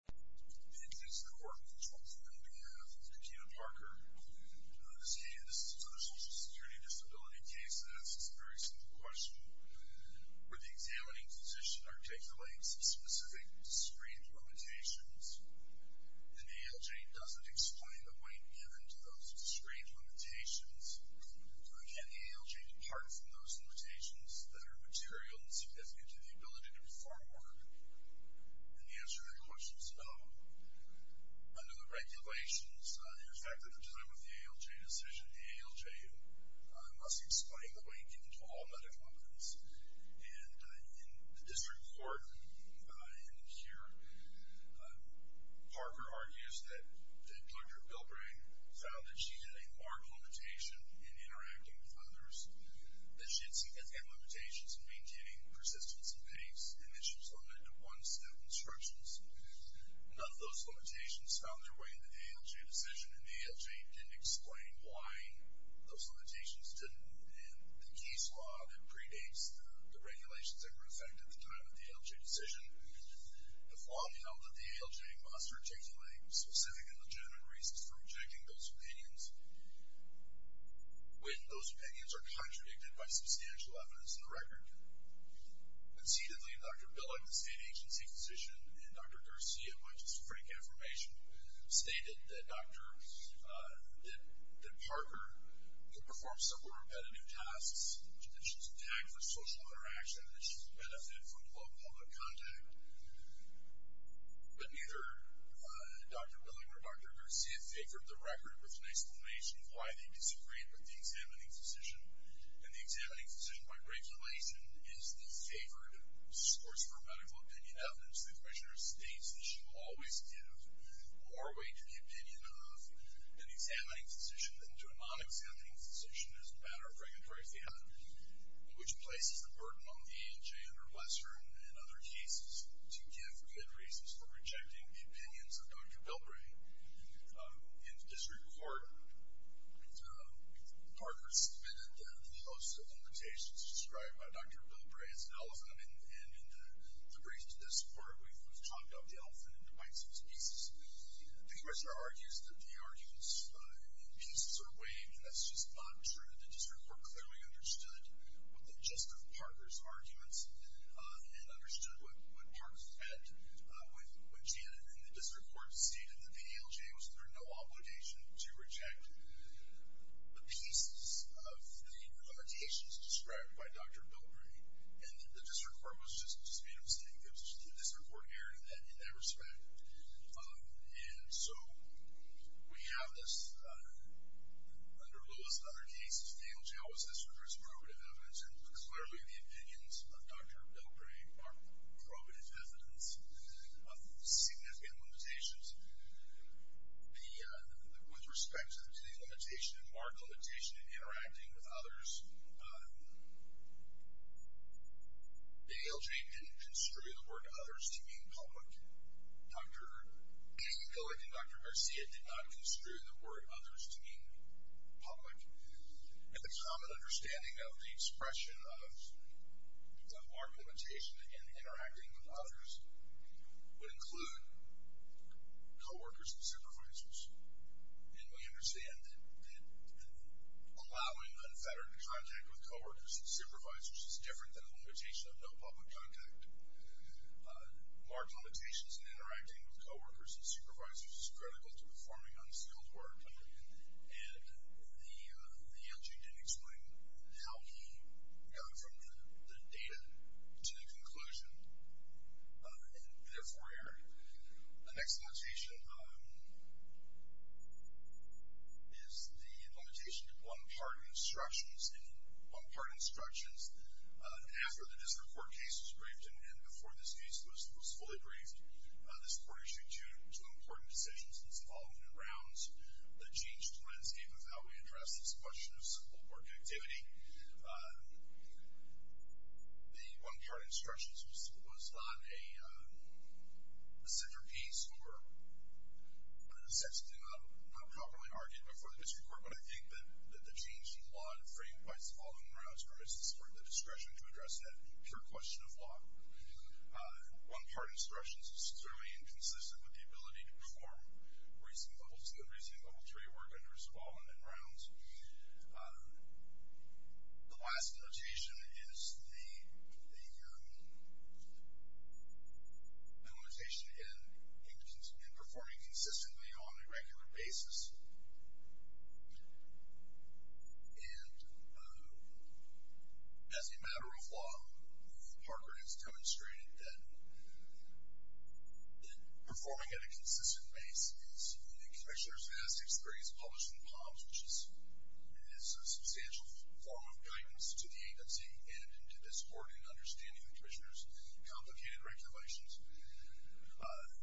It is an honor and pleasure for me to have Katina Parker. This is a Social Security Disability case that asks a very simple question. Where the examining physician articulates specific discreet limitations, and the ALJ doesn't explain the weight given to those discreet limitations. Can the ALJ depart from those limitations that are material and significant to the ability to perform work? And the answer to that question is no. Under the regulations, in effect at the time of the ALJ decision, the ALJ must explain the weight given to all medical evidence. And in the district court, in here, Parker argues that Dr. Bilbray found that she had a marked limitation in interacting with others, that she had significant limitations in maintaining persistence and pace, and that she was limited to one-step instructions. None of those limitations found their way in the ALJ decision, and the ALJ didn't explain why those limitations didn't. And the case law that predates the regulations that were in effect at the time of the ALJ decision, the flaw in the ALJ must articulate specific and legitimate reasons for rejecting those opinions, when those opinions are contradicted by substantial evidence in the record. Concededly, Dr. Billig, the state agency physician, and Dr. Garcia, by just frank affirmation, stated that Parker could perform several repetitive tasks, that she was tagged for social interaction, that she could benefit from close public contact, but neither Dr. Billig or Dr. Garcia favored the record with an explanation of why they disagreed with the examining physician. And the examining physician, by regulation, is the favored source for medical opinion evidence. The commissioner states that she will always give more weight to the opinion of an examining physician than to a non-examining physician as a matter of regulatory fiat, which places the burden on the ALJ and her lesser and other cases to give good reasons for rejecting the opinions of Dr. Bilbray. In this report, Parker submitted the host of limitations described by Dr. Bilbray as an elephant, and in the brief to this part, we've talked of the elephant in twice as pieces. The commissioner argues that the arguments in pieces are weighed, and that's just not true. The district court clearly understood what the gist of Parker's arguments, and understood what Parker said when Janet and the district court stated that the ALJ was under no obligation to reject the pieces of the limitations described by Dr. Bilbray. And the district court was just made a mistake. The district court erred in that respect. And so we have this under Lewis and other cases. The ALJ always has to produce probative evidence, and clearly the opinions of Dr. Bilbray are probative evidence of significant limitations. With respect to the mark limitation in interacting with others, the ALJ didn't construe the word others to mean public. Dr. Cohen and Dr. Garcia did not construe the word others to mean public. And the common understanding of the expression of the mark limitation in interacting with others would include co-workers and supervisors. And we understand that allowing unfettered contact with co-workers and supervisors is different than the limitation of no public contact. Mark limitations in interacting with co-workers and supervisors is critical to performing unskilled work. And the ALJ didn't explain how he got from the data to the conclusion, and therefore erred. The next limitation is the limitation to one-part instructions. In one-part instructions, after the district court case was briefed and before this case was fully briefed, this court issued two important decisions in the following rounds that changed the landscape of how we address this question of school board connectivity. The one-part instructions was not a centerpiece or an assertion not properly argued before the district court, but I think that the change in law and framework in the following rounds permits this court the discretion to address that pure question of law. One-part instructions is certainly inconsistent with the ability to perform reasoning level three work under subalignment grounds. The last limitation is the limitation in performing consistently on a regular basis. And as a matter of law, Parker has demonstrated that in performing at a consistent pace, as the commissioners have experienced published in POMS, which is a substantial form of guidance to the agency and to this court in understanding the commissioners' complicated regulations,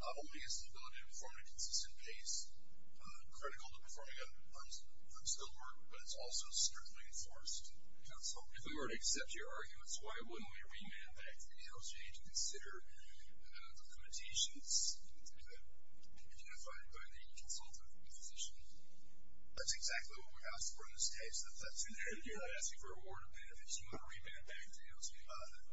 not only is the ability to perform at a consistent pace critical to performing on school board, but it's also strictly enforced in counsel. If we were to accept your arguments, why wouldn't we remand back to the NALC and consider the limitations identified by the consultant and physician? That's exactly what we asked for in this case. If that's an area that asks you for a reward or benefits, you want to remand back to NALC.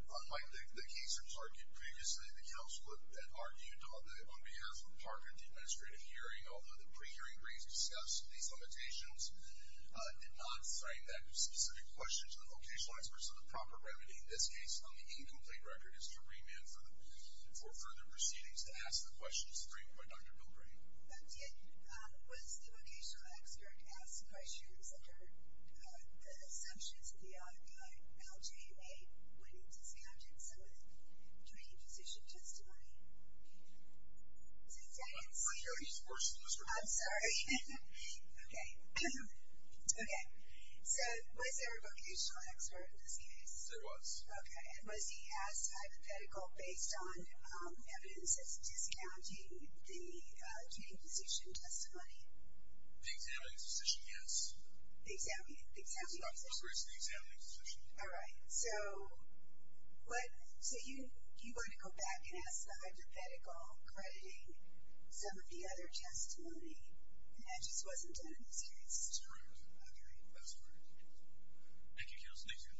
Unlike the case in Target, previously the counsel had argued on behalf of Parker at the administrative hearing, although the pre-hearing briefs discussed these limitations, did not frame that specific question to the vocational experts as a proper remedy. In this case, on the incomplete record, it's to remand for further proceedings to ask the questions framed by Dr. Bilbray. Was the vocational expert asked questions under the assumptions the LJ made when he discounted some of the training physician testimony? So was there a vocational expert in this case? There was. Okay. Was he asked hypothetical based on evidence of discounting the training physician testimony? The examining physician, yes. The examining physician? Dr. Bilbray's the examining physician. All right. So you want to go back and ask the hypothetical crediting some of the other testimony, and that just wasn't done in this case? That's correct. Okay. That's correct. Thank you, counsel. Thank you.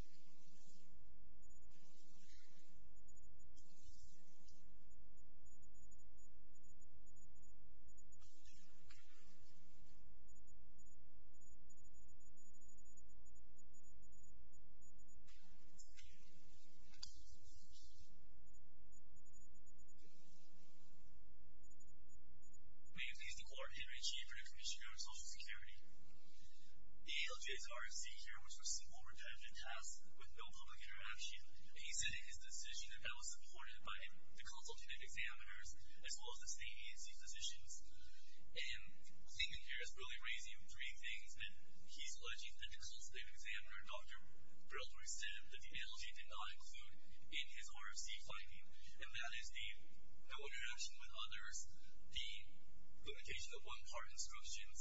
May it please the Court, Henry G. for the Commission on Social Security. The ALJ's RFC here was for simple repetitive tasks with no public interaction. He said in his decision that that was supported by the consultative examiners as well as the state A&C physicians. And the thing in here is really raising three things that he's alleging that the consultative examiner, Dr. Bilbray, said that the ALJ did not include in his RFC finding, and that is the no interaction with others, the limitation of one-part instructions,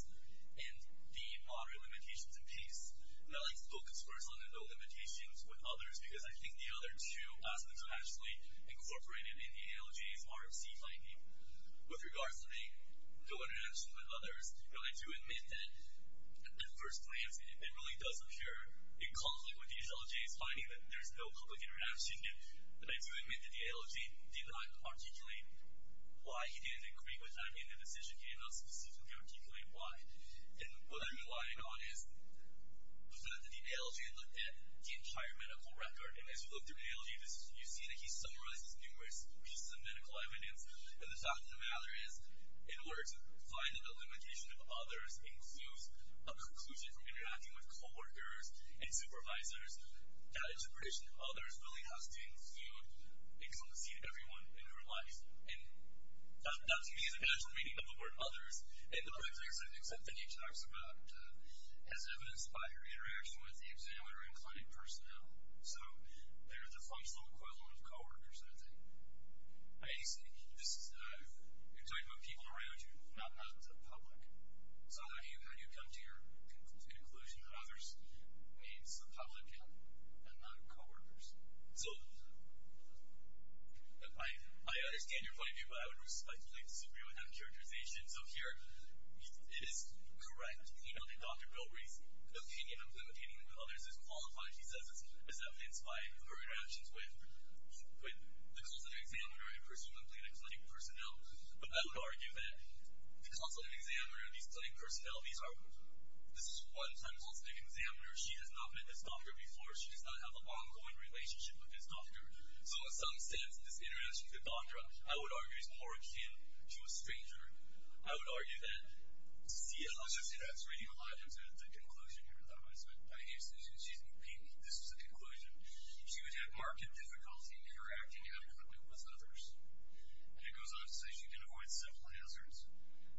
and the moderate limitations in peace. And I like to focus first on the no limitations with others because I think the other two aspects are actually incorporated in the ALJ's RFC finding. With regards to the no interaction with others, I do admit that at first glance it really does appear in conflict with the ALJ's finding that there's no public interaction. And I do admit that the ALJ did not articulate why he didn't agree with that in the decision. He did not specifically articulate why. And what I'm relying on is the fact that the ALJ looked at the entire medical record. And as you look through the ALJ, you see that he summarizes numerous pieces of medical evidence. And the fact of the matter is, in order to find that the limitation of others includes a preclusion from interacting with coworkers and supervisors, that interpretation of others really has to include excellency to everyone in your life. And that to me is a kind of the meaning of the word others. And the pretext, I think, is something he talks about, as evidenced by your interaction with the examiner and client personnel. So they're the functional equivalent of coworkers, I think. I just think you're talking about people around you, not the public. So how do you come to your conclusion that others means the public and not coworkers? So I understand your point of view, but I would respectfully disagree with that characterization. So here it is correct, you know, that Dr. Bilbrey's opinion of limiting others is qualified. She says it's evidenced by her interactions with the consultative examiner and presumably the clinic personnel. But I would argue that the consultative examiner and these clinic personnel, this is one time consultative examiner. She has not met this doctor before. She does not have an ongoing relationship with this doctor. So in some sense, this interaction with the doctor, I would argue, is more akin to a stranger. I would argue that to see how she interacts with you, a lot of times there's a conclusion here. A lot of times she's new people. This is the conclusion. She would have marked difficulty interacting adequately with others. And it goes on to say she can avoid simple hazards.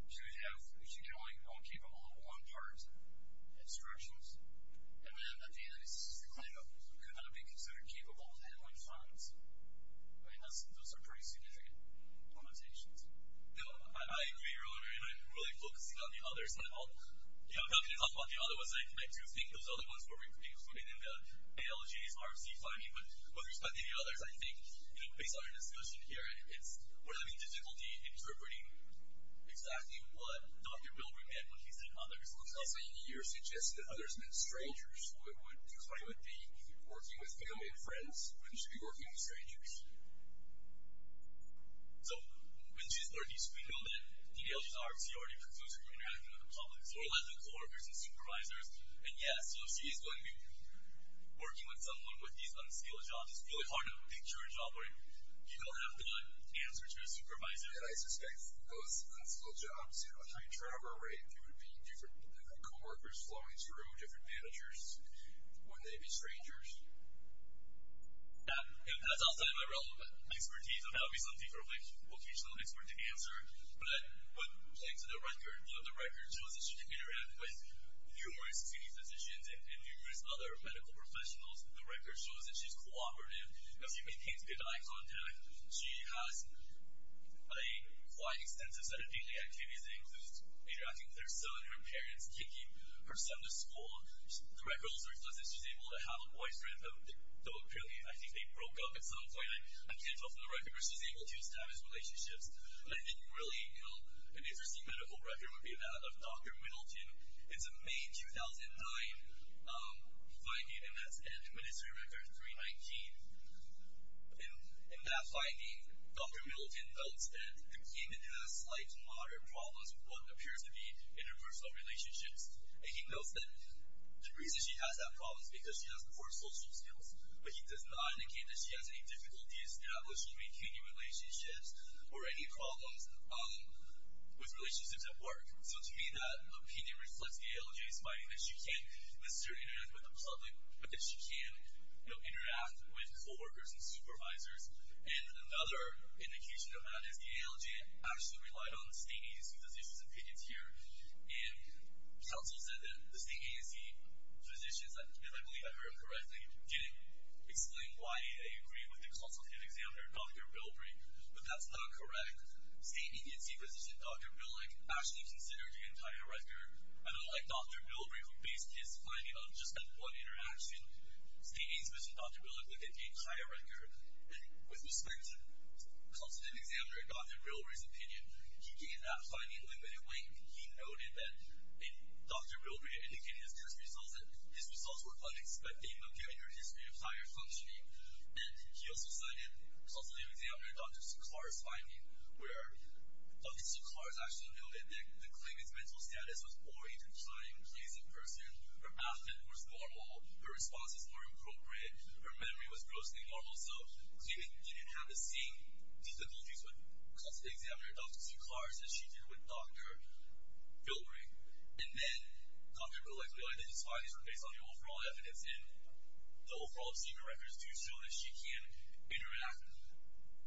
She can only keep all of one part instructions. And then at the end of this, this is the claim of could not be considered capable of handling funds. I mean, those are pretty significant limitations. No, I agree. Really focusing on the others. You know, talking about the other ones, I do think those other ones were included in the ALJ's RFC finding. But with respect to the others, I think, you know, based on our discussion here, we're having difficulty interpreting exactly what Dr. Bilbrey meant when he said others. It looks like you suggested that others meant strangers, which is why you would be working with family and friends when you should be working with strangers. So when she's 30, so we know that the ALJ's RFC already concludes her interaction with the public. So we're left with co-workers and supervisors. And, yes, so she's going to be working with someone with these unskilled jobs. It's really hard to picture a job where you don't have the answer to a supervisor. And I suspect those unskilled jobs have a high turnover rate. There would be different co-workers flowing through, different managers. Wouldn't they be strangers? Yeah. And that's outside of my relevant expertise, so that would be something for a vocational expert to answer. But playing to the record, you know, the record shows that she can interact with numerous senior physicians and numerous other medical professionals. The record shows that she's cooperative and she maintains good eye contact. She has a quite extensive set of daily activities that includes interacting with her son, her parents, taking her son to school. The record also reflects that she's able to have a boyfriend, though apparently I think they broke up at some point. I can't tell from the record, but she's able to establish relationships. I think really, you know, an interesting medical record would be that of Dr. Middleton. It's a May 2009 finding, and that's end of ministry record 319. In that finding, Dr. Middleton notes that the patient has slight to moderate problems with what appears to be interpersonal relationships. And he notes that the reason she has that problem is because she has poor social skills, but he does not indicate that she has any difficulty establishing or maintaining relationships or any problems with relationships at work. So to me, that opinion reflects ALJ's finding that she can't necessarily interact with the public, but that she can, you know, interact with co-workers and supervisors. And another indication of that is the ALJ actually relied on state agency physicians and pickets here. And counsel said that the state agency physicians, if I believe I heard correctly, didn't explain why they agreed with the consultative examiner, Dr. Bilbrey, but that's not correct. State agency physician Dr. Billick actually considered the entire record, and unlike Dr. Bilbrey who based his finding on just that one interaction, state agency physician Dr. Billick looked at the entire record. And with respect to consultative examiner Dr. Bilbrey's opinion, he gave that finding limited weight. He noted that Dr. Bilbrey indicated in his test results that his results were unexpected and appeared in her history of higher functioning. And he also cited consultative examiner Dr. Suclars' finding where Dr. Suclars actually noted that the claimant's mental status was poor, even trying to please a person. Her outfit was normal, her response was more appropriate, her memory was grossly normal. So the claimant didn't have the same difficulties with consultative examiner Dr. Suclars as she did with Dr. Bilbrey. And then Dr. Billick relied on his findings based on the overall evidence and the overall senior records to show that she can interact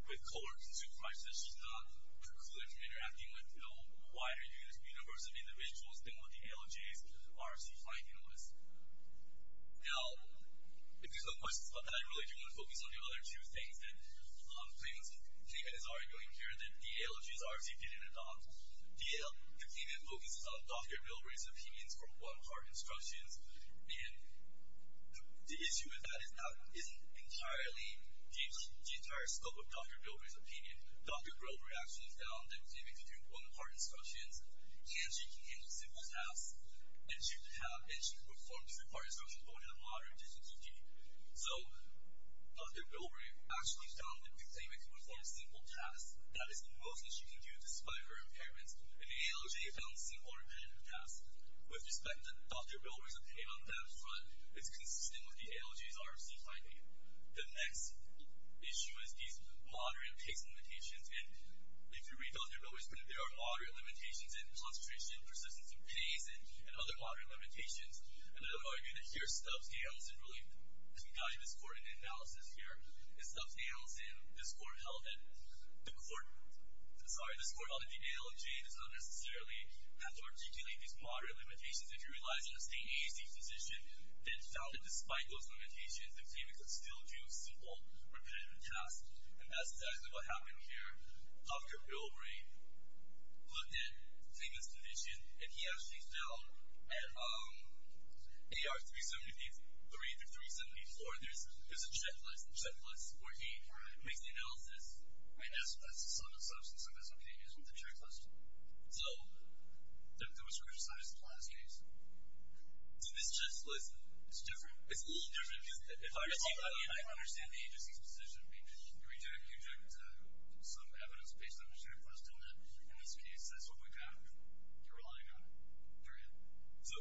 with co-workers and supervisors. So she's not precluded from interacting with no wider universe of individuals than what the ALJ's RFC finding was. Now, if there's no questions about that, I really do want to focus on the other two things that the claimant is arguing here, that the ALJ's RFC didn't adopt. The claimant focuses on Dr. Bilbrey's opinions for one-part instructions. And the issue with that isn't entirely the entire scope of Dr. Bilbrey's opinion. Dr. Bilbrey actually found that the claimant can do one-part instructions, and she can handle simple tasks, and she can perform two-part instructions going to the moderate difficulty. So Dr. Bilbrey actually found that the claimant can perform simple tasks. That is the most that she can do despite her impairments. And the ALJ found simple and repetitive tasks. With respect, Dr. Bilbrey's opinion on that front is consistent with the ALJ's RFC finding. The next issue is these moderate case limitations. And if you read Dr. Bilbrey's opinion, there are moderate limitations in concentration, persistence of pace, and other moderate limitations. And I would argue that here Stubbs nails, and really, as we guide this court in the analysis here, is Stubbs nails, and this court held that the ALJ does not necessarily have to articulate these moderate limitations. If you realize that a state AAC physician then found that despite those limitations, the claimant could still do simple, repetitive tasks. And that's exactly what happened here. Dr. Bilbrey looked at the claimant's condition, and he actually found at AR 373 through 374, there's a checklist, a checklist where he makes the analysis. And that's the substance of his opinion is with the checklist. So that was criticized in the last case. So this checklist is different? It's a little different. If I receive an opinion, I understand the agency's position. You reject some evidence based on your standpoint. In this case, that's what we found. You're relying on it. So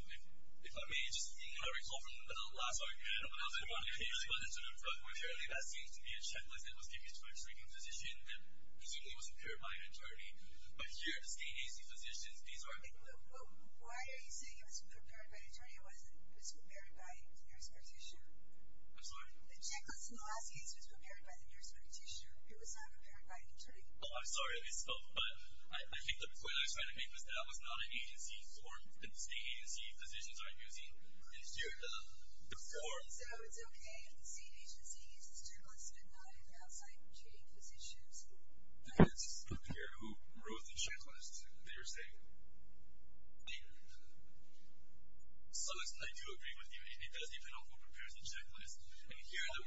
if I may just recall from the last argument, when I was in monitoring, apparently that seems to be a checklist that was given to a shrinking physician that presumably was impaired by an attorney. Why are you saying it was impaired by an attorney? It was prepared by the nurse practitioner. I'm sorry? The checklist in the last case was prepared by the nurse practitioner. It was not prepared by an attorney. Oh, I'm sorry. But I think the point I was trying to make was that that was not an agency form that the state agency physicians are using. So it's okay if the state agency uses the checklist, but not if it's outside of treating physicians? It depends on the person who wrote the checklist that you're saying. So I do agree with you, and it does depend on who prepares the checklist. And here the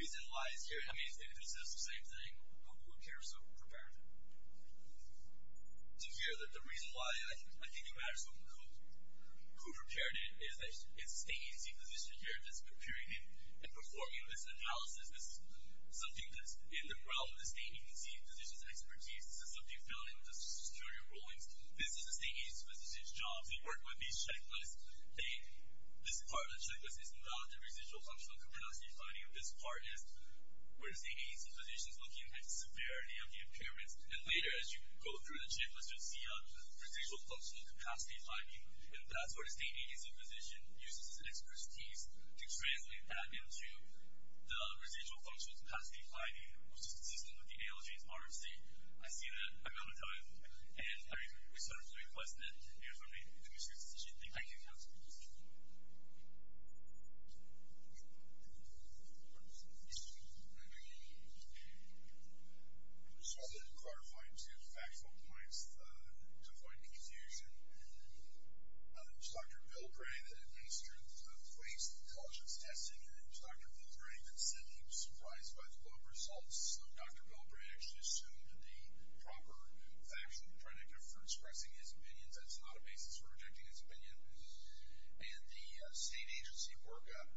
reason lies here. I mean, if this is the same thing, who would care so prepare it? To hear that the reason why I think it matters who prepared it is that it's the agency physician here that's preparing it and performing this analysis. This is something that's in the realm of the state agency physician's expertise. This is something you fill in just to secure your rulings. This is the state agency physician's job. They work with these checklists. This part of the checklist is about the residual functional capacity finding. This part is where the state agency physician is looking at the severity of the impairments. And later, as you go through the checklist, you'll see residual functional capacity finding. And that's where the state agency physician uses his expertise to translate that into the residual functional capacity finding, which is consistent with the ALJ's RFC. I see that. I'm going to tell him. And I respectfully request that you affirm the commissioner's decision. Thank you. Thank you, counsel. Just wanted to clarify two factual points to avoid confusion. One, it was Dr. Bilbray that administered the waste intelligence testing. And it was Dr. Bilbray that said he was surprised by the global results. So Dr. Bilbray actually assumed the proper factual predictive for expressing his opinions. That's not a basis for rejecting his opinion. And the state agency workup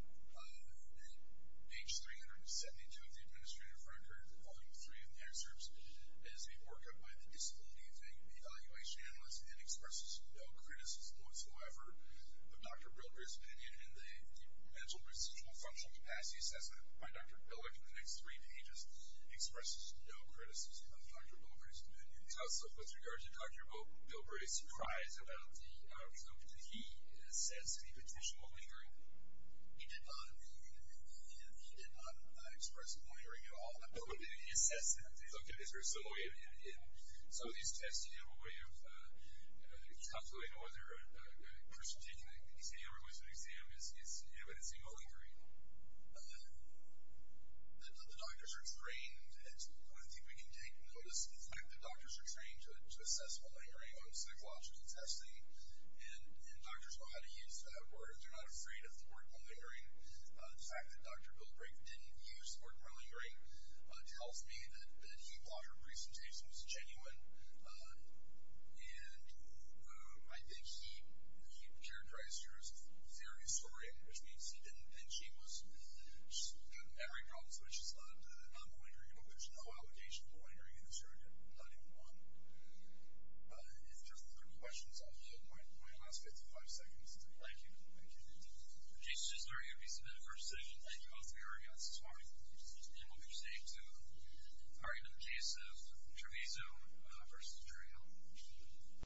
in page 372 of the administrative record, Volume 3 of the excerpts, is a workup by the disability evaluation analyst and expresses no criticism whatsoever of Dr. Bilbray's opinion in the mental residual functional capacity assessment. By Dr. Billick, in the next three pages, expresses no criticism of Dr. Bilbray's opinion. Counsel, with regards to Dr. Bilbray's surprise about the results, did he assess any potential lingering? He did not. He did not express a lingering at all. He assessed that. In some of these tests, you have a way of calculating whether a person taking an exam or going to an exam is evidencing a lingering. The doctors are trained. I think we can take notice of the fact that doctors are trained to assess a lingering on psychological testing. And doctors know how to use that word. They're not afraid of the word lingering. The fact that Dr. Bilbray didn't use the word lingering tells me that he thought her presentation was genuine. And I think he characterized her as a theory historian, which means he didn't, and she was, she's got a memory problem, so she's not malingering. But there's no allegation of a lingering in this argument. Not even one. If there's no further questions, I'll hold my last 55 seconds. Thank you. Thank you. This is very good piece of information. Thank you both for being our guests this morning. And we'll be proceeding to the argument in the case of Treviso v. Trayhill.